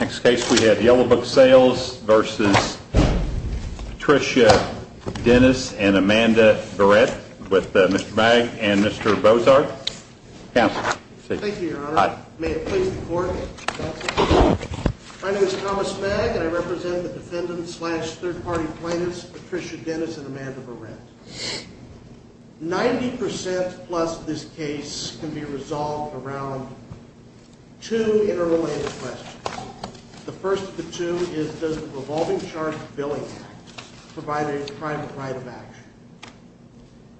Next case we have Yellow Book Sales v. Patricia Dennis & Amanda Barrett with Mr. Magg and Mr. Bozart. Counsel. Thank you, Your Honor. May it please the Court. Counsel. My name is Thomas Magg and I represent the defendant-slash-third-party plaintiffs Patricia Dennis & Amanda Barrett. Ninety percent-plus of this case can be resolved around two interrelated questions. The first of the two is, does the Revolving Charge Billing Act provide a private right of action?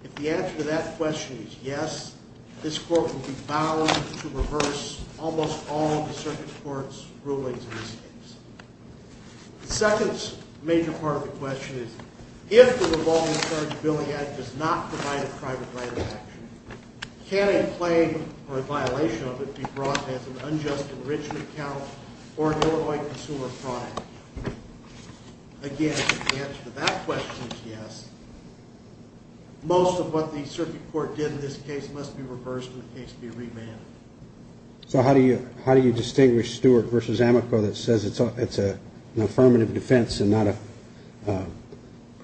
If the answer to that question is yes, this Court will be bound to reverse almost all of the Circuit Court's rulings in this case. The second major part of the question is, if the Revolving Charge Billing Act does not provide a private right of action, can a claim or a violation of it be brought as an unjust enrichment account or an illegal consumer product? Again, if the answer to that question is yes, most of what the Circuit Court did in this case must be reversed and the case be remanded. So how do you distinguish Stewart v. Amico that says it's an affirmative defense and not a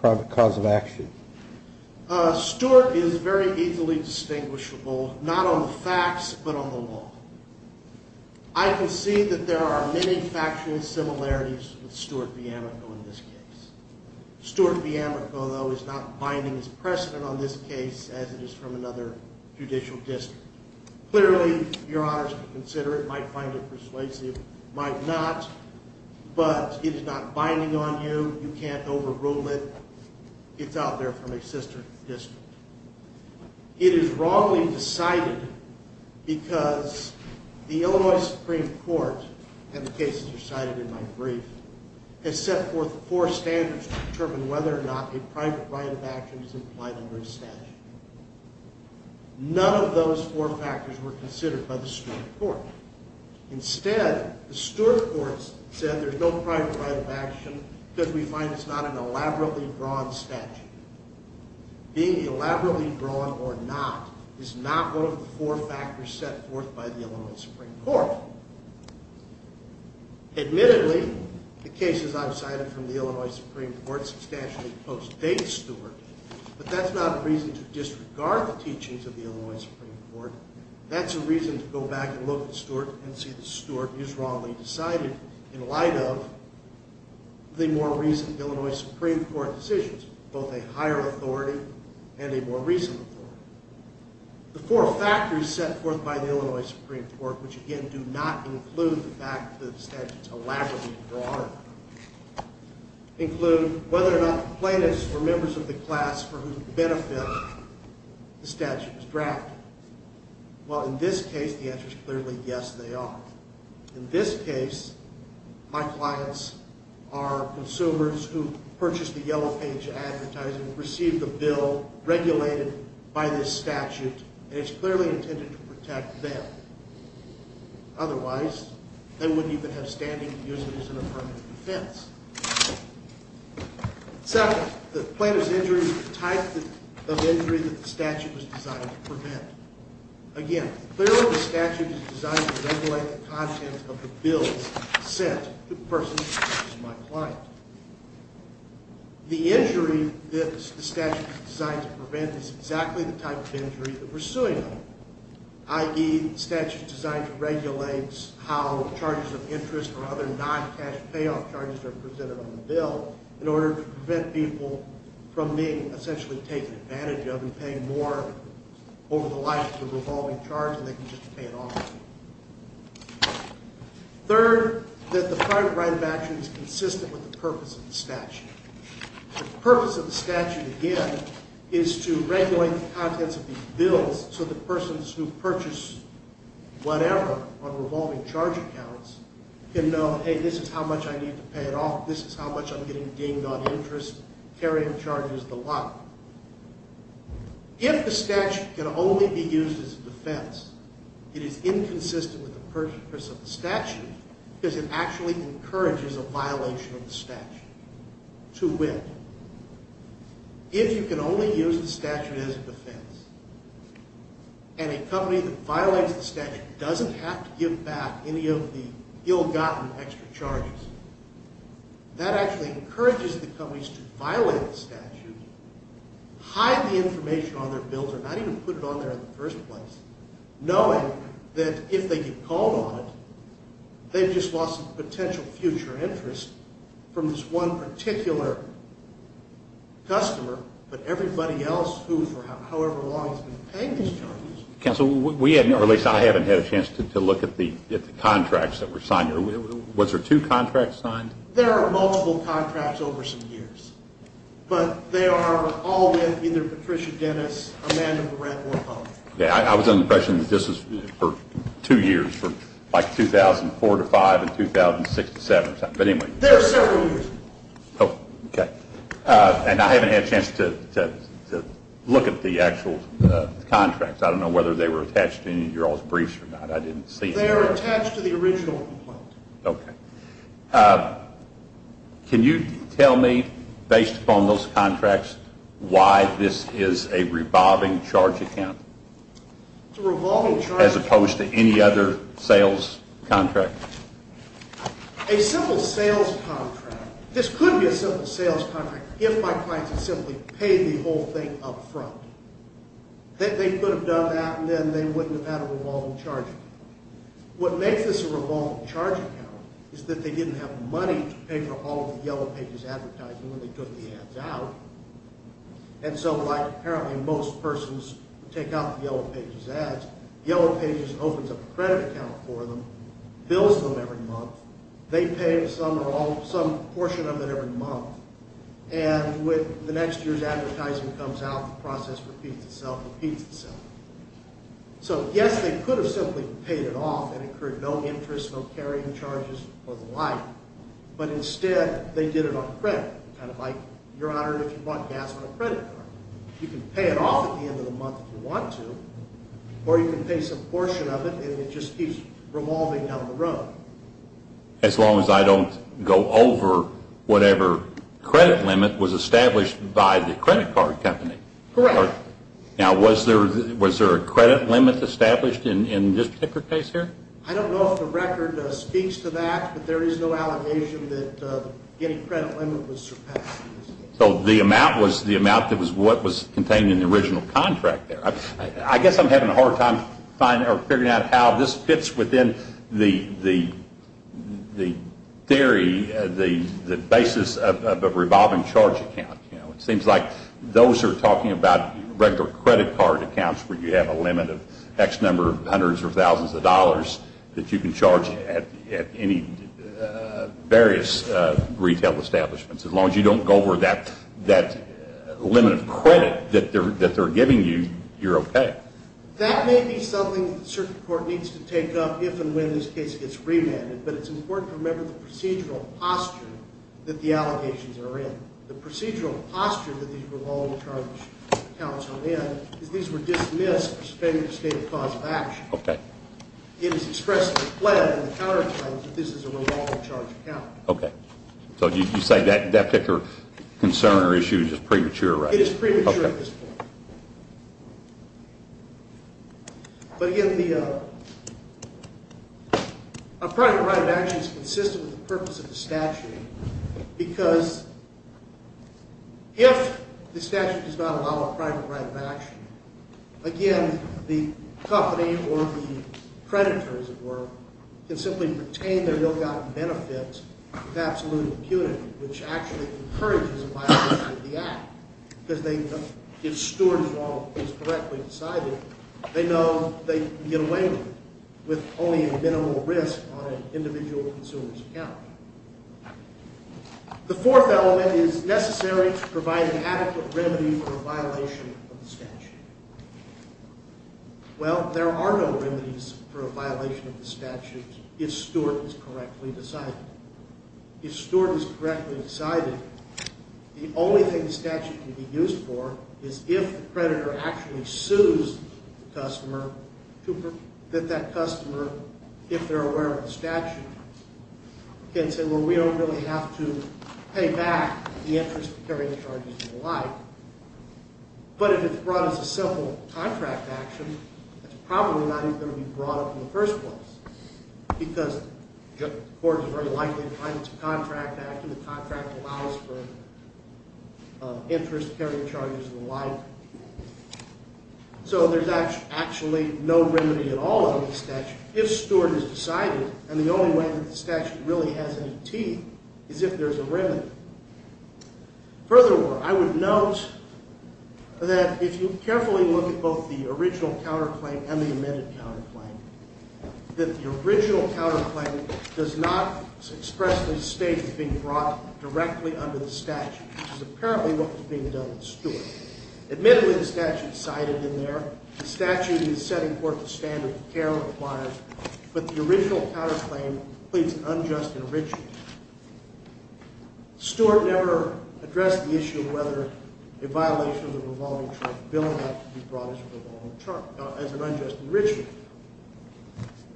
private cause of action? Stewart is very easily distinguishable, not on the facts but on the law. I can see that there are many factual similarities with Stewart v. Amico in this case. Stewart v. Amico, though, is not binding as precedent on this case as it is from another judicial district. Clearly, Your Honors can consider it, might find it persuasive, might not, but it is not binding on you. You can't overrule it. It's out there from a sister district. It is wrongly decided because the Illinois Supreme Court, and the cases you cited in my brief, has set forth four standards to determine whether or not a private right of action is implied under a statute. None of those four factors were considered by the Stewart Court. Instead, the Stewart Court said there's no private right of action because we find it's not an elaborately drawn statute. Being elaborately drawn or not is not one of the four factors set forth by the Illinois Supreme Court. Admittedly, the cases I've cited from the Illinois Supreme Court substantially postdate Stewart, but that's not a reason to disregard the teachings of the Illinois Supreme Court. That's a reason to go back and look at Stewart and see that Stewart is wrongly decided in light of the more recent Illinois Supreme Court decisions, both a higher authority and a more recent authority. The four factors set forth by the Illinois Supreme Court, which again do not include the fact that the statute is elaborately drawn, include whether or not plaintiffs were members of the class for whose benefit the statute was drafted. Well, in this case, the answer is clearly yes, they are. In this case, my clients are consumers who purchased the Yellow Page Advertising and received the bill regulated by this statute, and it's clearly intended to protect them. Otherwise, they wouldn't even have standing to use it as an affirmative defense. Second, the plaintiff's injury is the type of injury that the statute was designed to prevent. Again, clearly the statute is designed to regulate the contents of the bill sent to the person who purchased my client. The injury that the statute is designed to prevent is exactly the type of injury that we're suing them, i.e. the statute is designed to regulate how charges of interest or other non-cash payoff charges are presented on the bill in order to prevent people from being essentially taken advantage of and paying more over the life of the revolving charge than they can just pay it off. Third, that the private right of action is consistent with the purpose of the statute. The purpose of the statute, again, is to regulate the contents of these bills so that persons who purchase whatever on revolving charge accounts can know, hey, this is how much I need to pay it off, this is how much I'm getting dinged on interest, carrying charges, the like. If the statute can only be used as a defense, it is inconsistent with the purpose of the statute because it actually encourages a violation of the statute to wit. If you can only use the statute as a defense and a company that violates the statute doesn't have to give back any of the ill-gotten extra charges, that actually encourages the companies to violate the statute, hide the information on their bills or not even put it on there in the first place, knowing that if they get called on it, they've just lost potential future interest from this one particular customer, but everybody else who for however long has been paying these charges. Counsel, we haven't, or at least I haven't had a chance to look at the contracts that were signed. Was there two contracts signed? There are multiple contracts over some years, but they are all with either Patricia Dennis, Amanda Moret, or both. I was under the impression that this was for two years, like 2004 to 2005 and 2006 to 2007. There are several years. Okay. And I haven't had a chance to look at the actual contracts. I don't know whether they were attached to any of your old briefs or not. They are attached to the original complaint. Okay. Can you tell me, based upon those contracts, why this is a revolving charge account? It's a revolving charge account. As opposed to any other sales contract? A simple sales contract. This could be a simple sales contract if my clients had simply paid the whole thing up front. They could have done that and then they wouldn't have had a revolving charge account. What makes this a revolving charge account is that they didn't have money to pay for all of the Yellow Pages advertising when they took the ads out. And so, like apparently most persons take out the Yellow Pages ads, Yellow Pages opens up a credit account for them, bills them every month. They pay some portion of it every month. And when the next year's advertising comes out, the process repeats itself. So, yes, they could have simply paid it off and incurred no interest, no carrying charges, or the like. But instead, they did it on credit. Kind of like, Your Honor, if you bought gas on a credit card, you can pay it off at the end of the month if you want to, or you can pay some portion of it and it just keeps revolving down the road. As long as I don't go over whatever credit limit was established by the credit card company. Correct. Now, was there a credit limit established in this particular case here? I don't know if the record speaks to that, but there is no allegation that any credit limit was surpassed. So the amount was the amount that was what was contained in the original contract there. I guess I'm having a hard time figuring out how this fits within the theory, the basis of a revolving charge account. It seems like those are talking about regular credit card accounts where you have a limit of X number of hundreds or thousands of dollars that you can charge at any various retail establishments. As long as you don't go over that limit of credit that they're giving you, you're okay. That may be something the circuit court needs to take up if and when this case gets remanded, but it's important to remember the procedural posture that the allegations are in. The procedural posture that these revolving charge accounts are in is these were dismissed or suspended in the state of cause of action. Okay. It is expressed in the plan, in the counter plans, that this is a revolving charge account. Okay. So you say that particular concern or issue is premature, right? It is premature at this point. But, again, a private right of action is consistent with the purpose of the statute because if the statute does not allow a private right of action, again, the company or the creditor, as it were, can simply retain their milk out of benefits with absolute impunity, which actually encourages a violation of the act because if Stewart is correctly decided, they know they can get away with it with only a minimal risk on an individual consumer's account. The fourth element is necessary to provide an adequate remedy for a violation of the statute. Well, there are no remedies for a violation of the statute if Stewart is correctly decided. If Stewart is correctly decided, the only thing the statute can be used for is if the creditor actually sues the customer that that customer, if they're aware of the statute, can say, well, we don't really have to pay back the interest in carrying charges and the like. But if it's brought as a simple contract action, it's probably not even going to be brought up in the first place because the court is very likely to find it's a contract action. The contract allows for interest carrying charges and the like. So there's actually no remedy at all in the statute if Stewart is decided, and the only way that the statute really has any teeth is if there's a remedy. Furthermore, I would note that if you carefully look at both the original counterclaim and the amended counterclaim, that the original counterclaim does not expressly state it's being brought directly under the statute, which is apparently what was being done with Stewart. Admittedly, the statute's cited in there. The statute is setting forth the standard the care requires, but the original counterclaim pleads an unjust enrichment. Stewart never addressed the issue of whether a violation of the revolving chart bill as an unjust enrichment.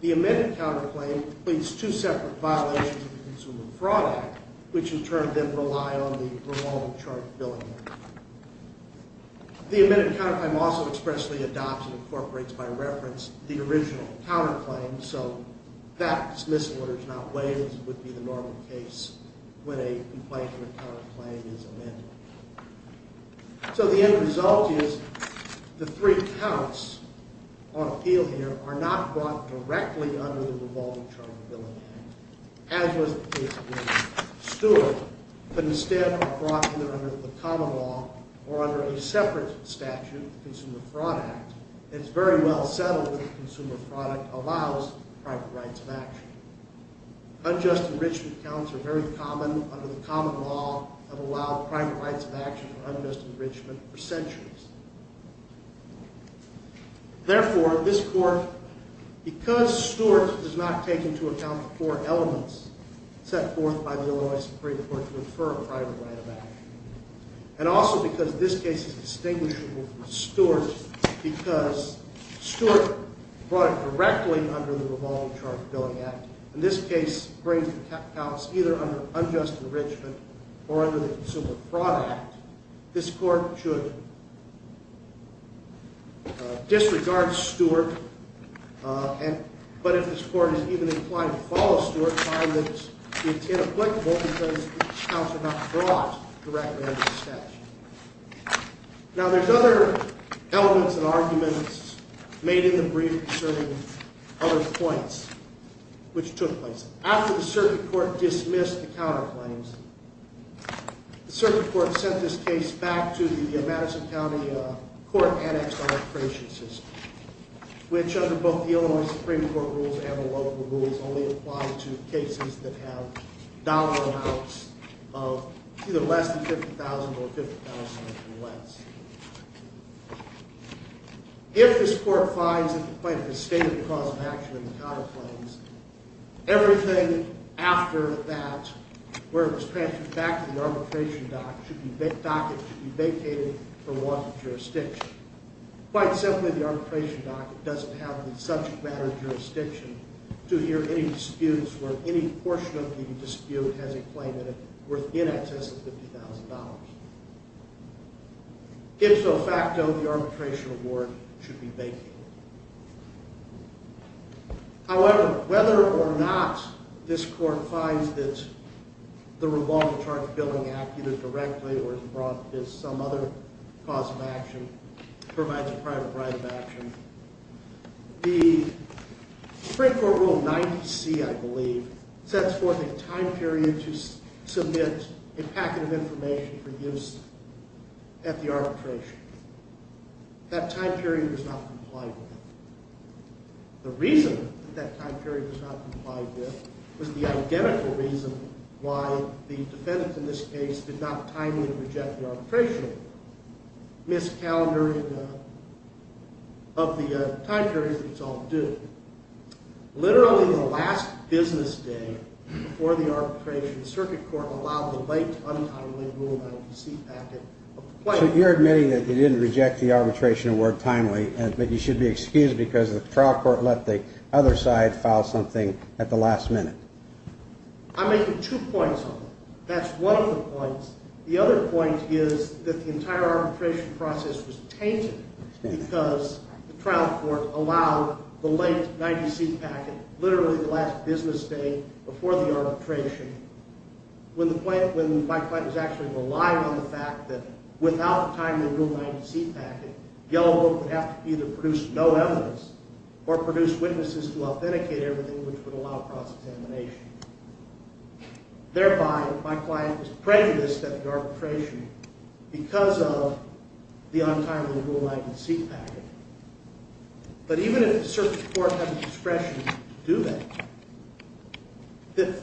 The amended counterclaim pleads two separate violations of the Consumer Fraud Act, which in turn then rely on the revolving chart bill. The amended counterclaim also expressly adopts and incorporates by reference the original counterclaim, so that dismissal order is not waived as would be the normal case when a complaint and a counterclaim is amended. So the end result is the three counts on appeal here are not brought directly under the revolving chart bill again, as was the case with Stewart, but instead are brought either under the common law or under a separate statute, the Consumer Fraud Act. It's very well settled that the Consumer Fraud Act allows private rights of action. Unjust enrichment counts are very common under the common law and have allowed private rights of action for unjust enrichment for centuries. Therefore, this court, because Stewart does not take into account the four elements set forth by the Illinois Supreme Court to infer a private right of action, and also because this case is distinguishable from Stewart because Stewart brought it directly under the Revolving Chart Billing Act, and this case brings the counts either under unjust enrichment or under the Consumer Fraud Act. This court should disregard Stewart, but if this court is even inclined to follow Stewart, find that it's inapplicable because the counts are not brought directly under the statute. Now, there's other elements and arguments made in the brief concerning other points which took place. After the circuit court dismissed the counterclaims, the circuit court sent this case back to the Madison County Court Annexed Arbitration System, which under both the Illinois Supreme Court rules and the local rules only apply to cases that have dollar amounts of either less than $50,000 or $50,000 or less. If this court finds that the plaintiff has stated the cause of action in the counterclaims, everything after that, where it was transferred back to the arbitration docket, should be vacated for want of jurisdiction. Quite simply, the arbitration docket doesn't have the subject matter jurisdiction to hear any disputes where any portion of the dispute has a claim that it's worth in excess of $50,000. If so facto, the arbitration award should be vacated. However, whether or not this court finds that the Revolving Chart Billing Act either directly or as a brought as some other cause of action provides a private right of action, the Supreme Court Rule 90C, I believe, sets forth a time period to submit a packet of information for use at the arbitration. That time period was not complied with. The reason that that time period was not complied with was the identical reason why the defendants in this case did not timely reject the arbitration award. Missed calendar of the time period, it's all due. Literally the last business day before the arbitration, the Circuit Court allowed the late, untimely Rule 90C packet of the plaintiff. You're admitting that you didn't reject the arbitration award timely, but you should be excused because the trial court let the other side file something at the last minute. I'm making two points on that. That's one of the points. The other point is that the entire arbitration process was tainted because the trial court allowed the late 90C packet literally the last business day before the arbitration. When my client was actually reliant on the fact that without a timely Rule 90C packet, Yellow Book would have to either produce no evidence or produce witnesses who authenticate everything which would allow cross-examination. Thereby, my client was prejudiced at the arbitration because of the untimely Rule 90C packet. But even if the Circuit Court had the discretion to do that, the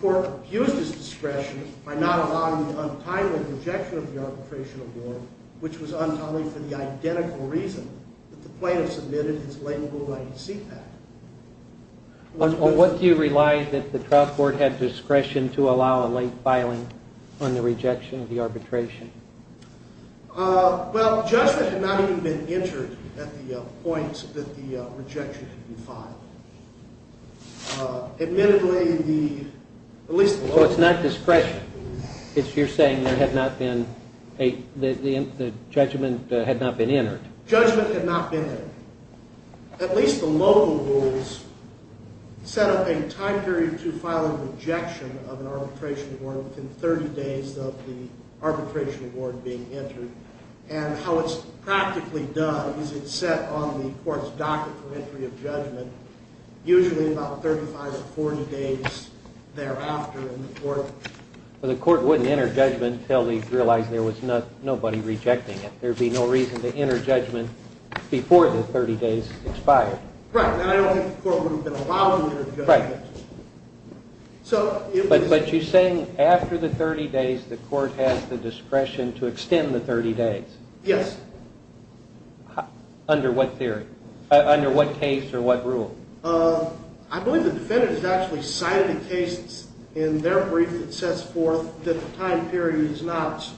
court abused its discretion by not allowing the untimely rejection of the arbitration award, which was untimely for the identical reason that the plaintiff submitted his late Rule 90C packet. What do you rely that the trial court had discretion to allow a late filing on the rejection of the arbitration? Well, judgment had not even been entered at the point that the rejection had been filed. So it's not discretion. You're saying the judgment had not been entered. Judgment had not been entered. At least the local rules set up a time period to file a rejection of an arbitration award within 30 days of the arbitration award being entered. And how it's practically done is it's set on the court's docket for entry of judgment, usually about 35 to 40 days thereafter in the court. But the court wouldn't enter judgment until they realized there was nobody rejecting it. There would be no reason to enter judgment before the 30 days expired. Right, and I don't think the court would have been allowed to enter judgment. Right, but you're saying after the 30 days the court has the discretion to extend the 30 days? Yes. Under what theory? Under what case or what rule? I believe the defendant has actually cited a case in their brief that sets forth that the time period is not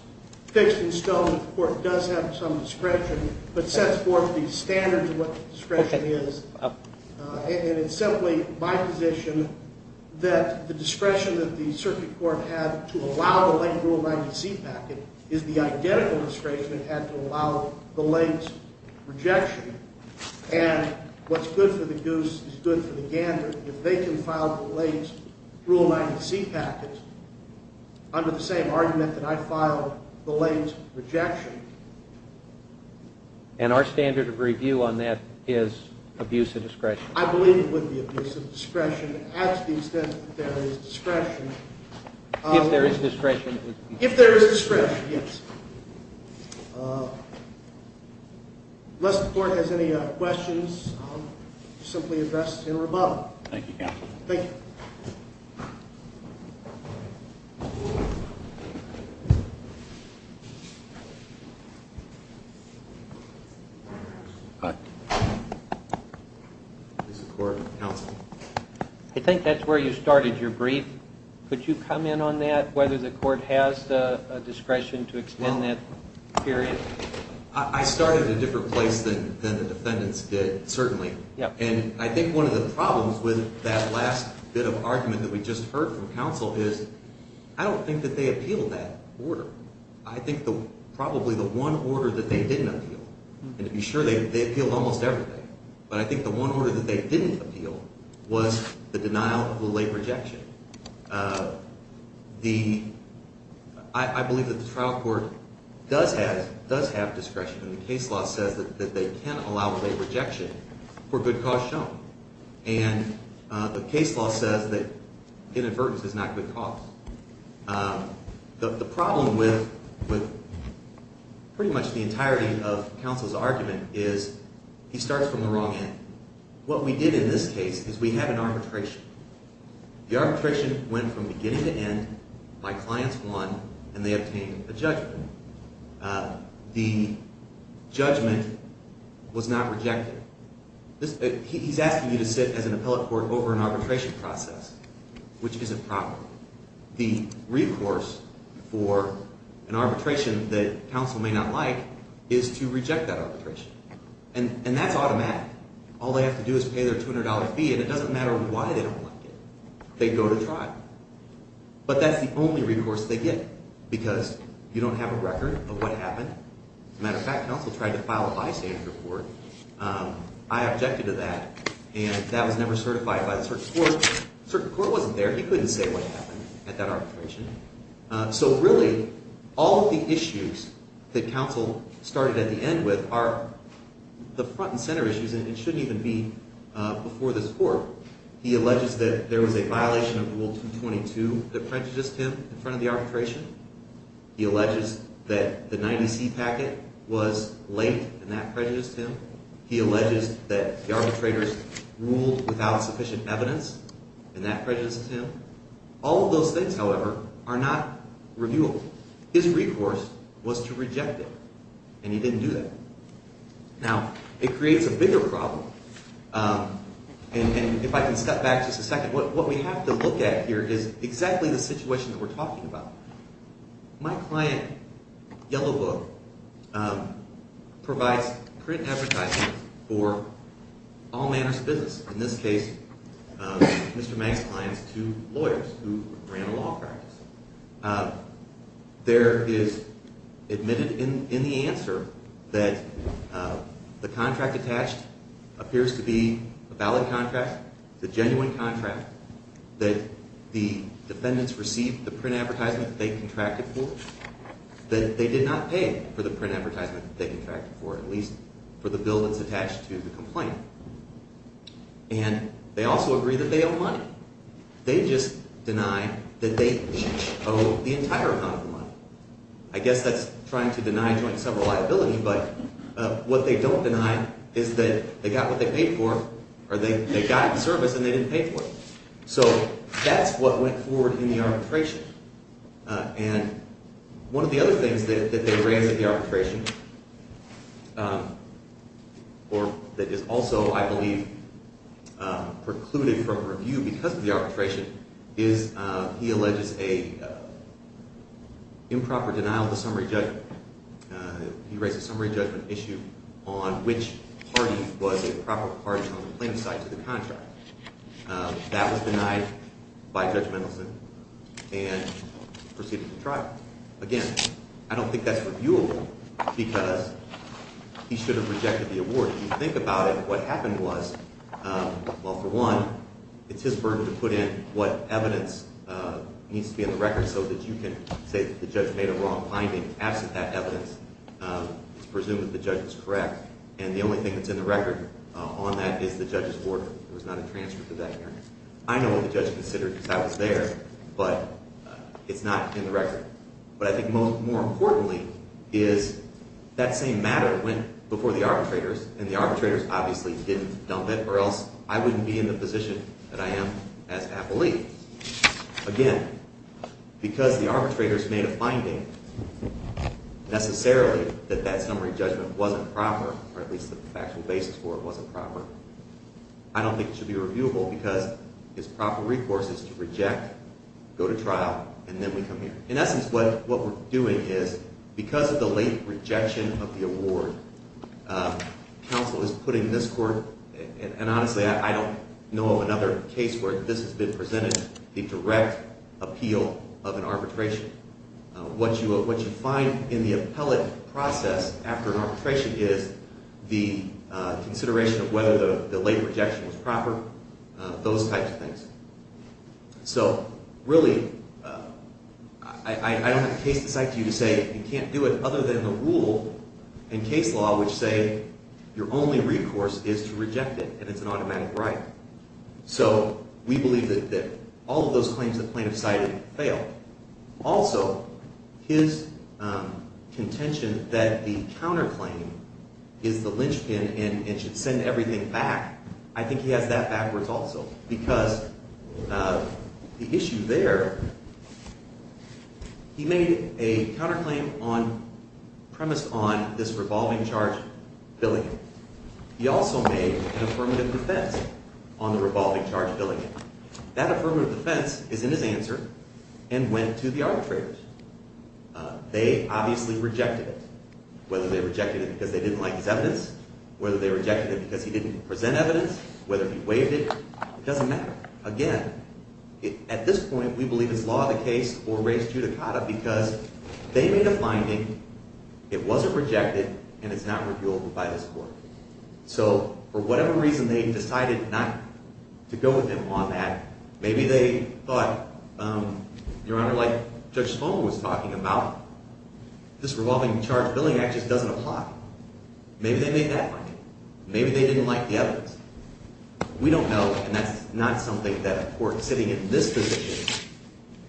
fixed in stone. The court does have some discretion, but sets forth the standards of what discretion is. And it's simply my position that the discretion that the circuit court had to allow the late Rule 90C packet is the identical discretion it had to allow the late rejection. And what's good for the goose is good for the gander. If they can file the late Rule 90C packet under the same argument that I filed the late rejection. And our standard of review on that is abuse of discretion. I believe it would be abuse of discretion to the extent that there is discretion. If there is discretion. If there is discretion, yes. Unless the court has any questions, I'll simply address them in rebuttal. Thank you, counsel. Thank you. Hi. This is the court. Counsel. I think that's where you started your brief. Could you comment on that, whether the court has a discretion to extend that period? I started at a different place than the defendants did, certainly. And I think one of the problems with that last bit of argument that we just heard from counsel is I don't think that they appeal that order. I think probably the one order that they didn't appeal, and to be sure, they appealed almost everything. But I think the one order that they didn't appeal was the denial of the late rejection. I believe that the trial court does have discretion. And the case law says that they can allow late rejection for good cause shown. And the case law says that inadvertence is not good cause. The problem with pretty much the entirety of counsel's argument is he starts from the wrong end. What we did in this case is we had an arbitration. The arbitration went from beginning to end, my clients won, and they obtained a judgment. The judgment was not rejected. He's asking you to sit as an appellate court over an arbitration process, which isn't proper. The recourse for an arbitration that counsel may not like is to reject that arbitration. And that's automatic. All they have to do is pay their $200 fee, and it doesn't matter why they don't like it. They go to trial. But that's the only recourse they get because you don't have a record of what happened. As a matter of fact, counsel tried to file a bystander report. I objected to that, and that was never certified by the circuit court. The circuit court wasn't there. He couldn't say what happened at that arbitration. So really, all of the issues that counsel started at the end with are the front and center issues, and it shouldn't even be before this court. He alleges that there was a violation of Rule 222 that prejudiced him in front of the arbitration. He alleges that the 90C packet was late, and that prejudiced him. He alleges that the arbitrators ruled without sufficient evidence, and that prejudices him. All of those things, however, are not revealed. His recourse was to reject it, and he didn't do that. Now, it creates a bigger problem, and if I can step back just a second, what we have to look at here is exactly the situation that we're talking about. My client, Yellow Book, provides print advertisements for all manners of business. In this case, Mr. Mang's client is two lawyers who ran a law practice. There is admitted in the answer that the contract attached appears to be a valid contract. It's a genuine contract that the defendants received the print advertisement that they contracted for, that they did not pay for the print advertisement that they contracted for, at least for the bill that's attached to the complaint. And they also agree that they owe money. They just deny that they owe the entire amount of money. I guess that's trying to deny joint sever liability, but what they don't deny is that they got what they paid for, or they got the service and they didn't pay for it. So that's what went forward in the arbitration. And one of the other things that they raise at the arbitration, or that is also, I believe, precluded from review because of the arbitration, is he alleges an improper denial of the summary judgment. He raised a summary judgment issue on which party was a proper party on the complaint side to the contract. That was denied by Judge Mendelson and proceeded to trial. Again, I don't think that's reviewable because he should have rejected the award. If you think about it, what happened was, well, for one, it's his burden to put in what evidence needs to be in the record so that you can say that the judge made a wrong finding. Absent that evidence, it's presumed that the judge was correct. And the only thing that's in the record on that is the judge's order. There was not a transcript of that hearing. I know what the judge considered because I was there, but it's not in the record. But I think more importantly is that same matter went before the arbitrators, and the arbitrators obviously didn't dump it or else I wouldn't be in the position that I am as an affilee. Again, because the arbitrators made a finding, necessarily, that that summary judgment wasn't proper, or at least the factual basis for it wasn't proper, I don't think it should be reviewable because his proper recourse is to reject, go to trial, and then we come here. In essence, what we're doing is because of the late rejection of the award, counsel is putting this court, and honestly I don't know of another case where this has been presented, the direct appeal of an arbitration. What you find in the appellate process after an arbitration is the consideration of whether the late rejection was proper, those types of things. So really, I don't have a case to cite to you to say you can't do it other than the rule. In case law, we say your only recourse is to reject it, and it's an automatic right. So we believe that all of those claims the plaintiff cited fail. Also, his contention that the counterclaim is the linchpin and should send everything back, I think he has that backwards also because the issue there, he made a counterclaim premised on this revolving charge billing. He also made an affirmative defense on the revolving charge billing. That affirmative defense is in his answer and went to the arbitrators. They obviously rejected it, whether they rejected it because they didn't like his evidence, whether they rejected it because he didn't present evidence, whether he waived it, it doesn't matter. Again, at this point, we believe it's law of the case or res judicata because they made a finding, it wasn't rejected, and it's not repealed by this court. So for whatever reason they decided not to go with him on that, maybe they thought, Your Honor, like Judge Sloan was talking about, this revolving charge billing act just doesn't apply. Maybe they made that finding. Maybe they didn't like the evidence. We don't know, and that's not something that a court sitting in this position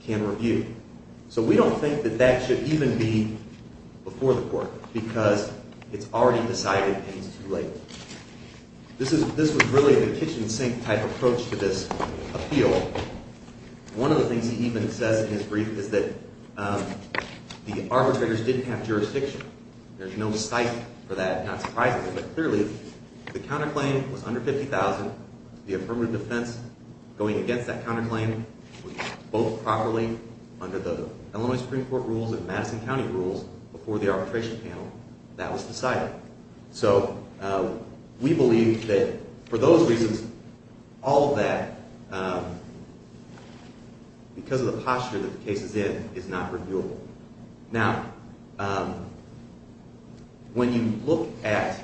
can review. So we don't think that that should even be before the court because it's already decided and it's too late. This was really the kitchen sink type approach to this appeal. One of the things he even says in his brief is that the arbitrators didn't have jurisdiction. There's no site for that, not surprisingly, but clearly the counterclaim was under $50,000. The affirmative defense going against that counterclaim was both properly under the Illinois Supreme Court rules and Madison County rules before the arbitration panel. That was decided. So we believe that for those reasons, all of that, because of the posture that the case is in, is not reviewable. Now, when you look at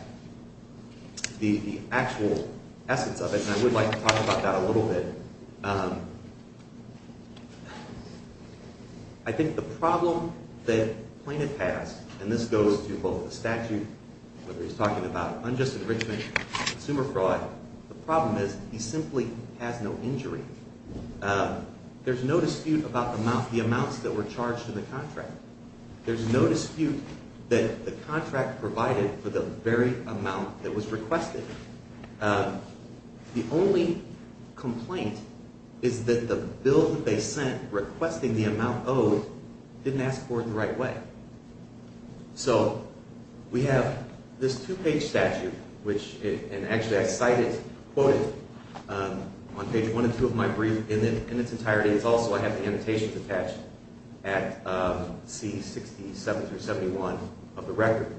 the actual essence of it, and I would like to talk about that a little bit, I think the problem that Plaintiff has, and this goes to both the statute, whether he's talking about unjust enrichment, consumer fraud, the problem is he simply has no injury. There's no dispute about the amounts that were charged in the contract. There's no dispute that the contract provided for the very amount that was requested. The only complaint is that the bill that they sent requesting the amount owed didn't ask for it the right way. So we have this two-page statute, and actually I cited, quoted on page one and two of my brief in its entirety. It's also, I have the annotations attached at C67-71 of the record.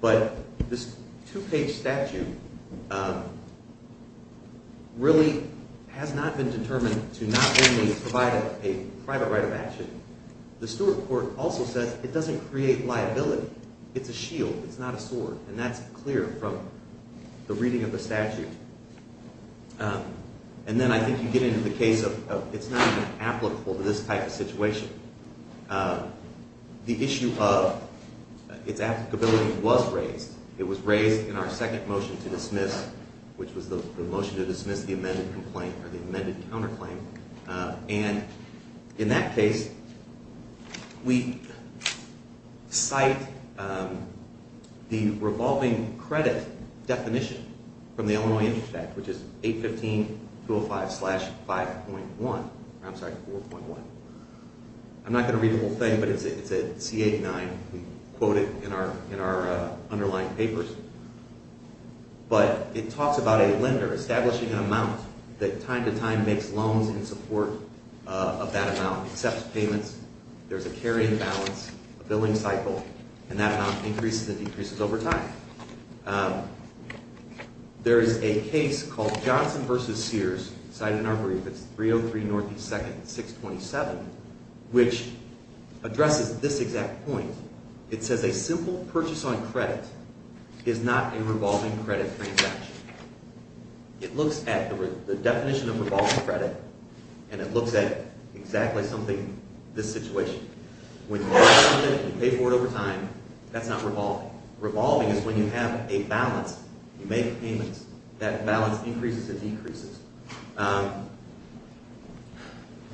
But this two-page statute really has not been determined to not only provide a private right of action. The Stewart Court also says it doesn't create liability. It's a shield. It's not a sword. And that's clear from the reading of the statute. And then I think you get into the case of it's not even applicable to this type of situation. The issue of its applicability was raised. It was raised in our second motion to dismiss, which was the motion to dismiss the amended complaint or the amended counterclaim. And in that case, we cite the revolving credit definition from the Illinois Interest Act, which is 815-205-5.1. I'm sorry, 4.1. I'm not going to read the whole thing, but it's at C89. We quote it in our underlying papers. But it talks about a lender establishing an amount that time to time makes loans in support of that amount, accepts payments. There's a carry-in balance, a billing cycle, and that amount increases and decreases over time. There is a case called Johnson v. Sears, cited in our brief. It's 303 Northeast 2nd, 627, which addresses this exact point. It says a simple purchase on credit is not a revolving credit transaction. It looks at the definition of revolving credit, and it looks at exactly something, this situation. When you pay for it over time, that's not revolving. Revolving is when you have a balance. You make payments. That balance increases and decreases.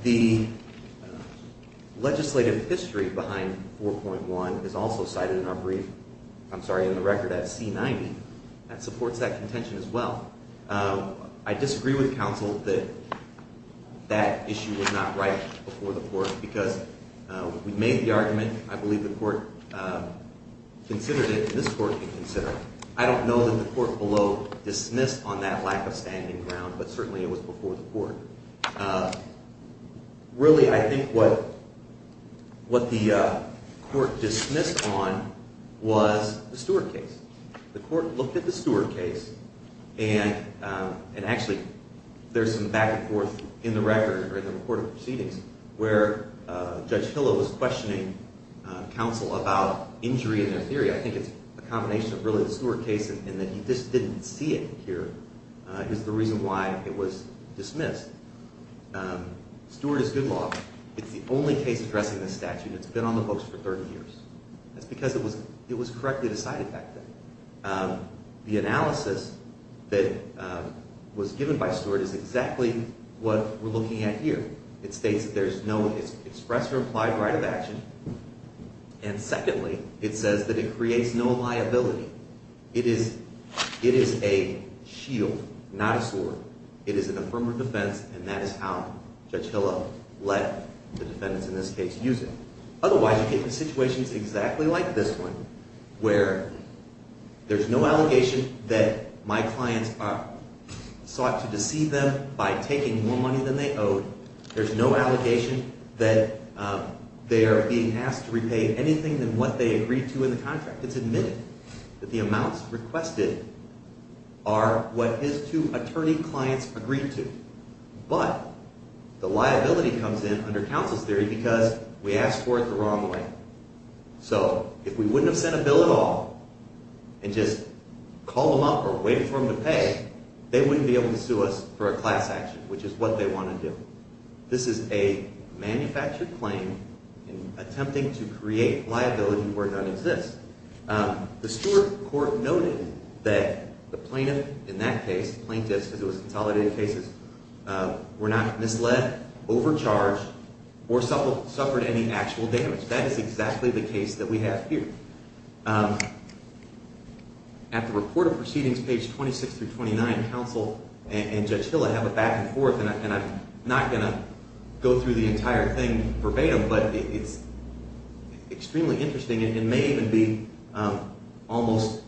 The legislative history behind 4.1 is also cited in our brief. I'm sorry, in the record at C90. That supports that contention as well. I disagree with counsel that that issue was not right before the court because we made the argument. I believe the court considered it, and this court can consider it. I don't know that the court below dismissed on that lack of standing ground, but certainly it was before the court. Really, I think what the court dismissed on was the Stewart case. The court looked at the Stewart case, and actually there's some back and forth in the record or in the report of proceedings where Judge Hillel was questioning counsel about injury in their theory. I think it's a combination of really the Stewart case and that he just didn't see it here is the reason why it was dismissed. Stewart is good law. It's the only case addressing this statute, and it's been on the books for 30 years. That's because it was correctly decided back then. The analysis that was given by Stewart is exactly what we're looking at here. It states that there's no express or implied right of action, and secondly, it says that it creates no liability. It is a shield, not a sword. It is an affirmative defense, and that is how Judge Hillel let the defendants in this case use it. Otherwise, you get situations exactly like this one where there's no allegation that my clients sought to deceive them by taking more money than they owed. There's no allegation that they are being asked to repay anything than what they agreed to in the contract. It's admitted that the amounts requested are what his two attorney clients agreed to, but the liability comes in under counsel's theory because we asked for it the wrong way. So if we wouldn't have sent a bill at all and just called them up or waited for them to pay, they wouldn't be able to sue us for a class action, which is what they want to do. This is a manufactured claim in attempting to create liability where none exists. The Stewart court noted that the plaintiff in that case, plaintiffs because it was consolidated cases, were not misled, overcharged, or suffered any actual damage. That is exactly the case that we have here. At the report of proceedings, page 26 through 29, counsel and Judge Hillel have a back and forth, and I'm not going to go through the entire thing verbatim, but it's extremely interesting. It may even be almost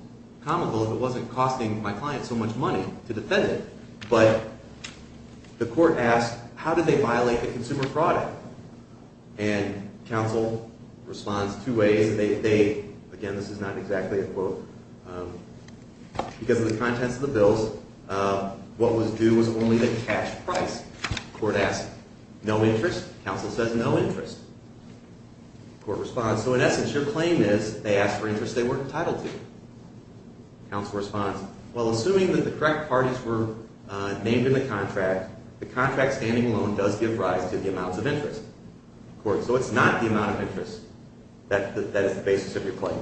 comical if it wasn't costing my clients so much money to defend it. But the court asked, how did they violate the consumer fraud act? And counsel responds two ways. Again, this is not exactly a quote. Because of the contents of the bills, what was due was only the cash price. The court asked, no interest? Counsel says, no interest. The court responds, so in essence, your claim is they asked for interests they weren't entitled to. Counsel responds, well, assuming that the correct parties were named in the contract, the contract standing alone does give rise to the amounts of interest. So it's not the amount of interest that is the basis of your claim.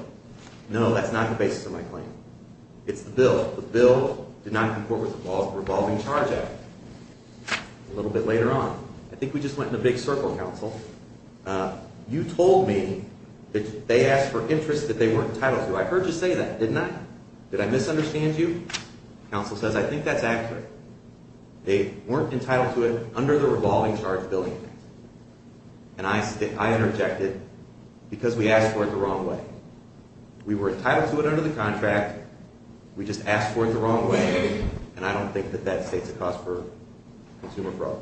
No, that's not the basis of my claim. It's the bill. The bill did not comport with the revolving charge act. A little bit later on, I think we just went in a big circle, counsel. You told me that they asked for interests that they weren't entitled to. I heard you say that, didn't I? Did I misunderstand you? Counsel says, I think that's accurate. They weren't entitled to it under the revolving charge billing act. And I interjected, because we asked for it the wrong way. We were entitled to it under the contract. We just asked for it the wrong way, and I don't think that that states a cause for consumer fraud.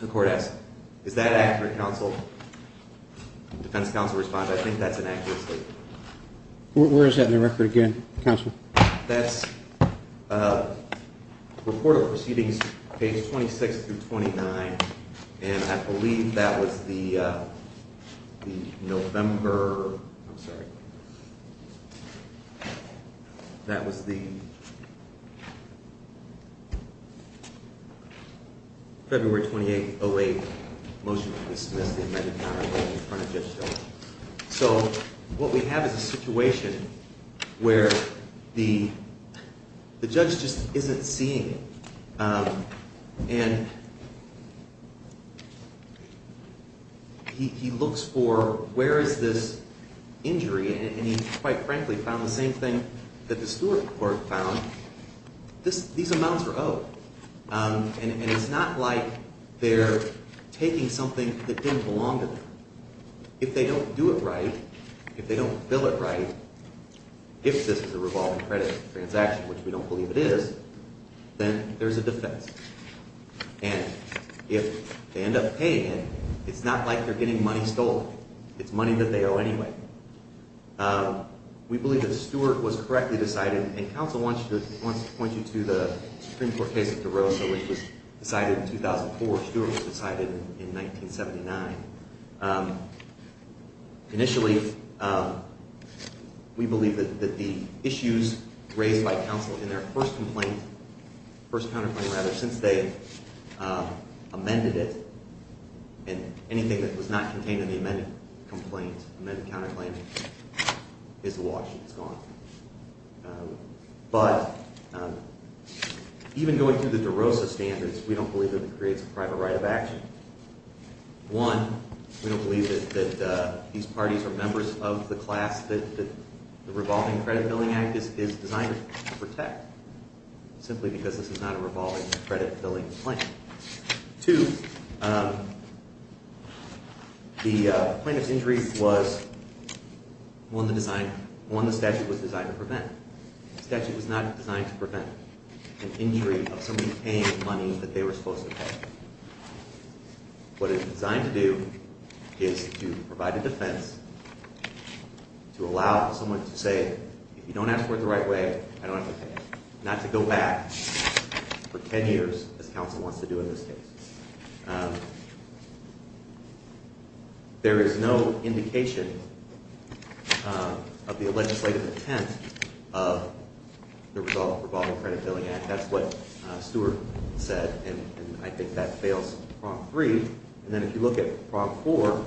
The court asked, is that accurate, counsel? Defense counsel responds, I think that's an accurate statement. Where is that in the record again, counsel? That's report of proceedings, page 26 through 29, and I believe that was the November ‑‑ I'm sorry. That was the February 28th, 08 motion to dismiss the amended power bill in front of Judge Sheldon. So what we have is a situation where the judge just isn't seeing it. And he looks for where is this injury, and he quite frankly found the same thing that the steward court found. These amounts are owed. And it's not like they're taking something that didn't belong to them. If they don't do it right, if they don't bill it right, if this is a revolving credit transaction, which we don't believe it is, then there's a defense. And if they end up paying it, it's not like they're getting money stolen. It's money that they owe anyway. We believe that Stewart was correctly decided, and counsel wants to point you to the Supreme Court case of DeRosa, which was decided in 2004. Stewart was decided in 1979. Initially, we believe that the issues raised by counsel in their first complaint, first counterclaim, rather, since they amended it, and anything that was not contained in the amended complaint, amended counterclaim, is the law. It's gone. But even going through the DeRosa standards, we don't believe that it creates a private right of action. One, we don't believe that these parties are members of the class that the revolving credit billing act is designed to protect, simply because this is not a revolving credit billing claim. Two, the plaintiff's injury was one the statute was designed to prevent. The statute was not designed to prevent an injury of somebody paying money that they were supposed to pay. What it's designed to do is to provide a defense, to allow someone to say, if you don't ask for it the right way, I don't have to pay, not to go back for 10 years, as counsel wants to do in this case. There is no indication of the legislative intent of the revolving credit billing act. That's what Stewart said, and I think that fails Prompt 3. And then if you look at Prompt 4,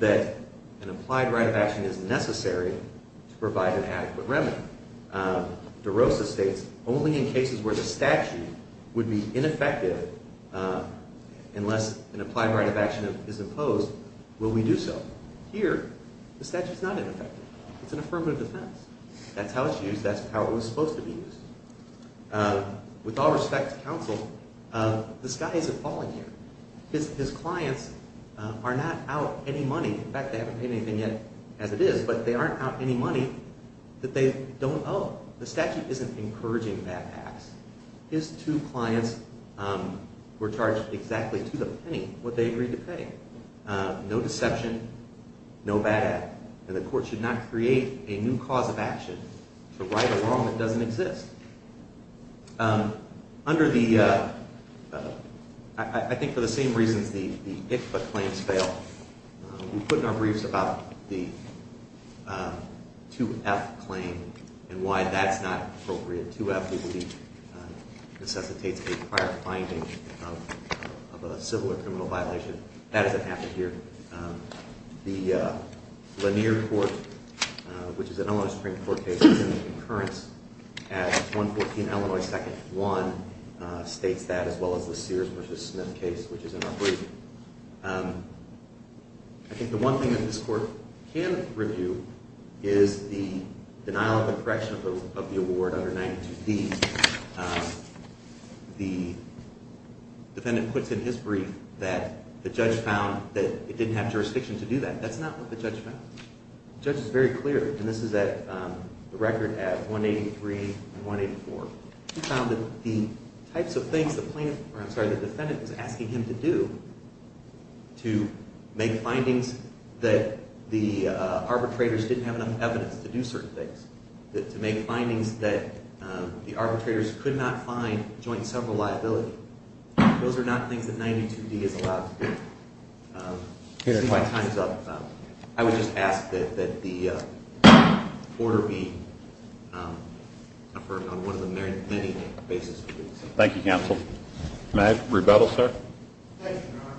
that an applied right of action is necessary to provide an adequate remedy. DeRosa states, only in cases where the statute would be ineffective, unless an applied right of action is imposed, will we do so. Here, the statute's not ineffective. It's an affirmative defense. That's how it's used. That's how it was supposed to be used. With all respect to counsel, this guy isn't falling here. His clients are not out any money, in fact they haven't paid anything yet, as it is, but they aren't out any money that they don't owe. The statute isn't encouraging bad acts. His two clients were charged exactly to the penny what they agreed to pay. No deception, no bad act. And the court should not create a new cause of action to right a wrong that doesn't exist. I think for the same reasons the ICFA claims fail. We put in our briefs about the 2F claim and why that's not appropriate. 2F, we believe, necessitates a prior finding of a civil or criminal violation. That doesn't happen here. The Lanier Court, which is an Illinois Supreme Court case, is in the concurrence at 114 Illinois 2nd 1, states that, as well as the Sears v. Smith case, which is in our brief. I think the one thing that this court can review is the denial of the correction of the award under 92D. The defendant puts in his brief that the judge found that it didn't have jurisdiction to do that. That's not what the judge found. The judge is very clear, and this is the record at 183 and 184. He found that the types of things the defendant was asking him to do to make findings that the arbitrators didn't have enough evidence to do certain things, to make findings that the arbitrators could not find joint civil liability. Those are not things that 92D is allowed to do. Since my time is up, I would just ask that the order be affirmed on one of the many, many bases. Thank you, counsel. May I rebuttal, sir? Thank you, Your Honor.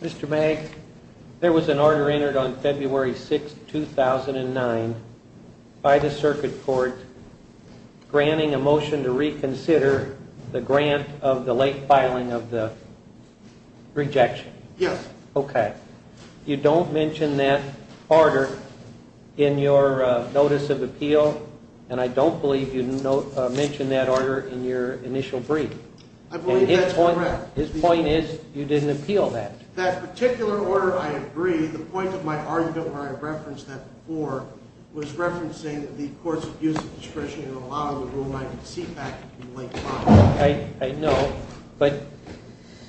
Mr. May, there was an order entered on February 6, 2009, by the circuit court, granting a motion to reconsider the grant of the late filing of the rejection. Yes. Okay. You don't mention that order in your notice of appeal, and I don't believe you mentioned that order in your initial brief. I believe that's correct. His point is you didn't appeal that. That particular order, I agree. The point of my argument where I referenced that before was referencing the court's use of discretion in allowing the rule-making seat back in the late filing. I know, but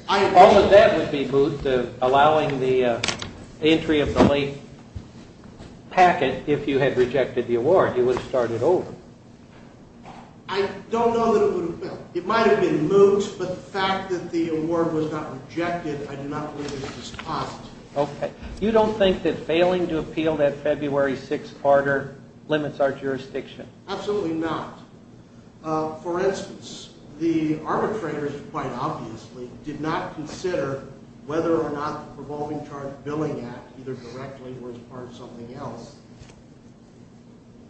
all of that would be moot, allowing the entry of the late packet if you had rejected the award. It would have started over. I don't know that it would have been. It might have been moot, but the fact that the award was not rejected, I do not believe that it was possible. Okay. You don't think that failing to appeal that February 6 order limits our jurisdiction? Absolutely not. For instance, the arbitrators, quite obviously, did not consider whether or not the Provolving Charge Billing Act, either directly or as part of something else,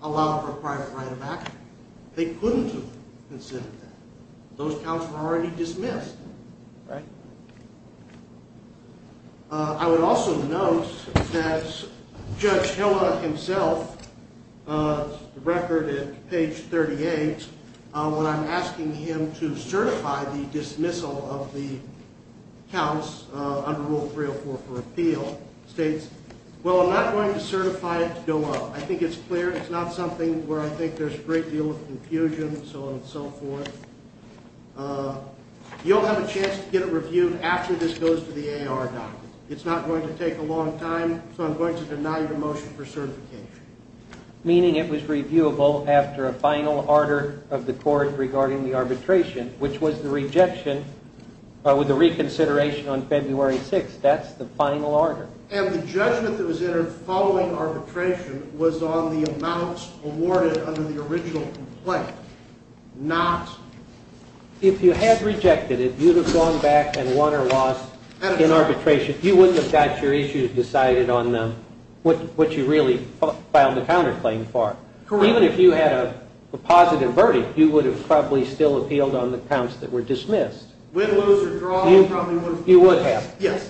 allowed for private write-of-action. They couldn't have considered that. Those counts were already dismissed. Right. I would also note that Judge Hillel himself, the record at page 38, when I'm asking him to certify the dismissal of the counts under Rule 304 for appeal, states, well, I'm not going to certify it to go up. I think it's clear it's not something where I think there's a great deal of confusion and so on and so forth. You'll have a chance to get it reviewed after this goes to the AR docket. It's not going to take a long time, so I'm going to deny your motion for certification. Meaning it was reviewable after a final order of the court regarding the arbitration, which was the rejection with a reconsideration on February 6th. That's the final order. And the judgment that was entered following arbitration was on the amounts awarded under the original complaint, not- If you had rejected it, you'd have gone back and won or lost in arbitration. You wouldn't have got your issues decided on what you really filed the counterclaim for. Correct. Even if you had a positive verdict, you would have probably still appealed on the counts that were dismissed. Win, lose, or draw, you probably would have- You would have. Yes.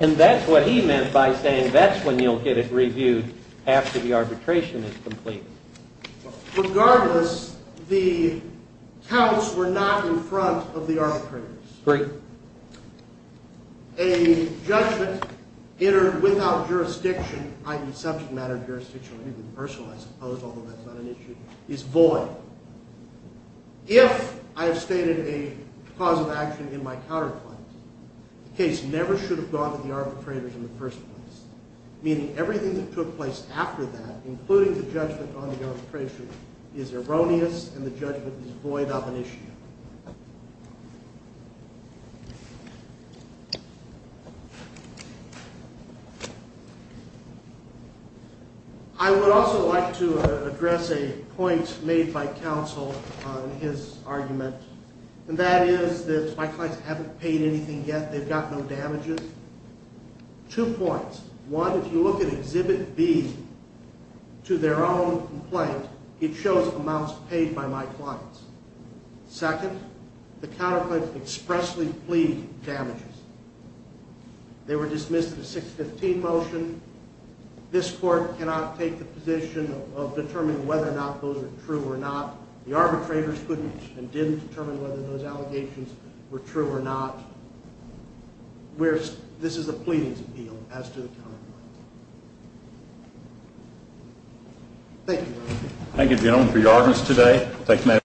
And that's what he meant by saying that's when you'll get it reviewed after the arbitration is complete. Regardless, the counts were not in front of the arbitrators. Right. A judgment entered without jurisdiction, i.e., subject matter jurisdiction or even personal, I suppose, although that's not an issue, is void. If I have stated a cause of action in my counterclaims, the case never should have gone to the arbitrators in the first place, meaning everything that took place after that, including the judgment on the arbitration, is erroneous and the judgment is void of an issue. I would also like to address a point made by counsel on his argument, and that is that my clients haven't paid anything yet. They've got no damages. Two points. One, if you look at Exhibit B to their own complaint, it shows amounts paid by my clients. Second, the counterclaims expressly plead damages. They were dismissed in a 615 motion. This court cannot take the position of determining whether or not those are true or not. The arbitrators couldn't and didn't determine whether those allegations were true or not. This is a pleading appeal as to the counterclaims. Thank you, Mr. Chairman. Thank you, gentlemen, for your audience today.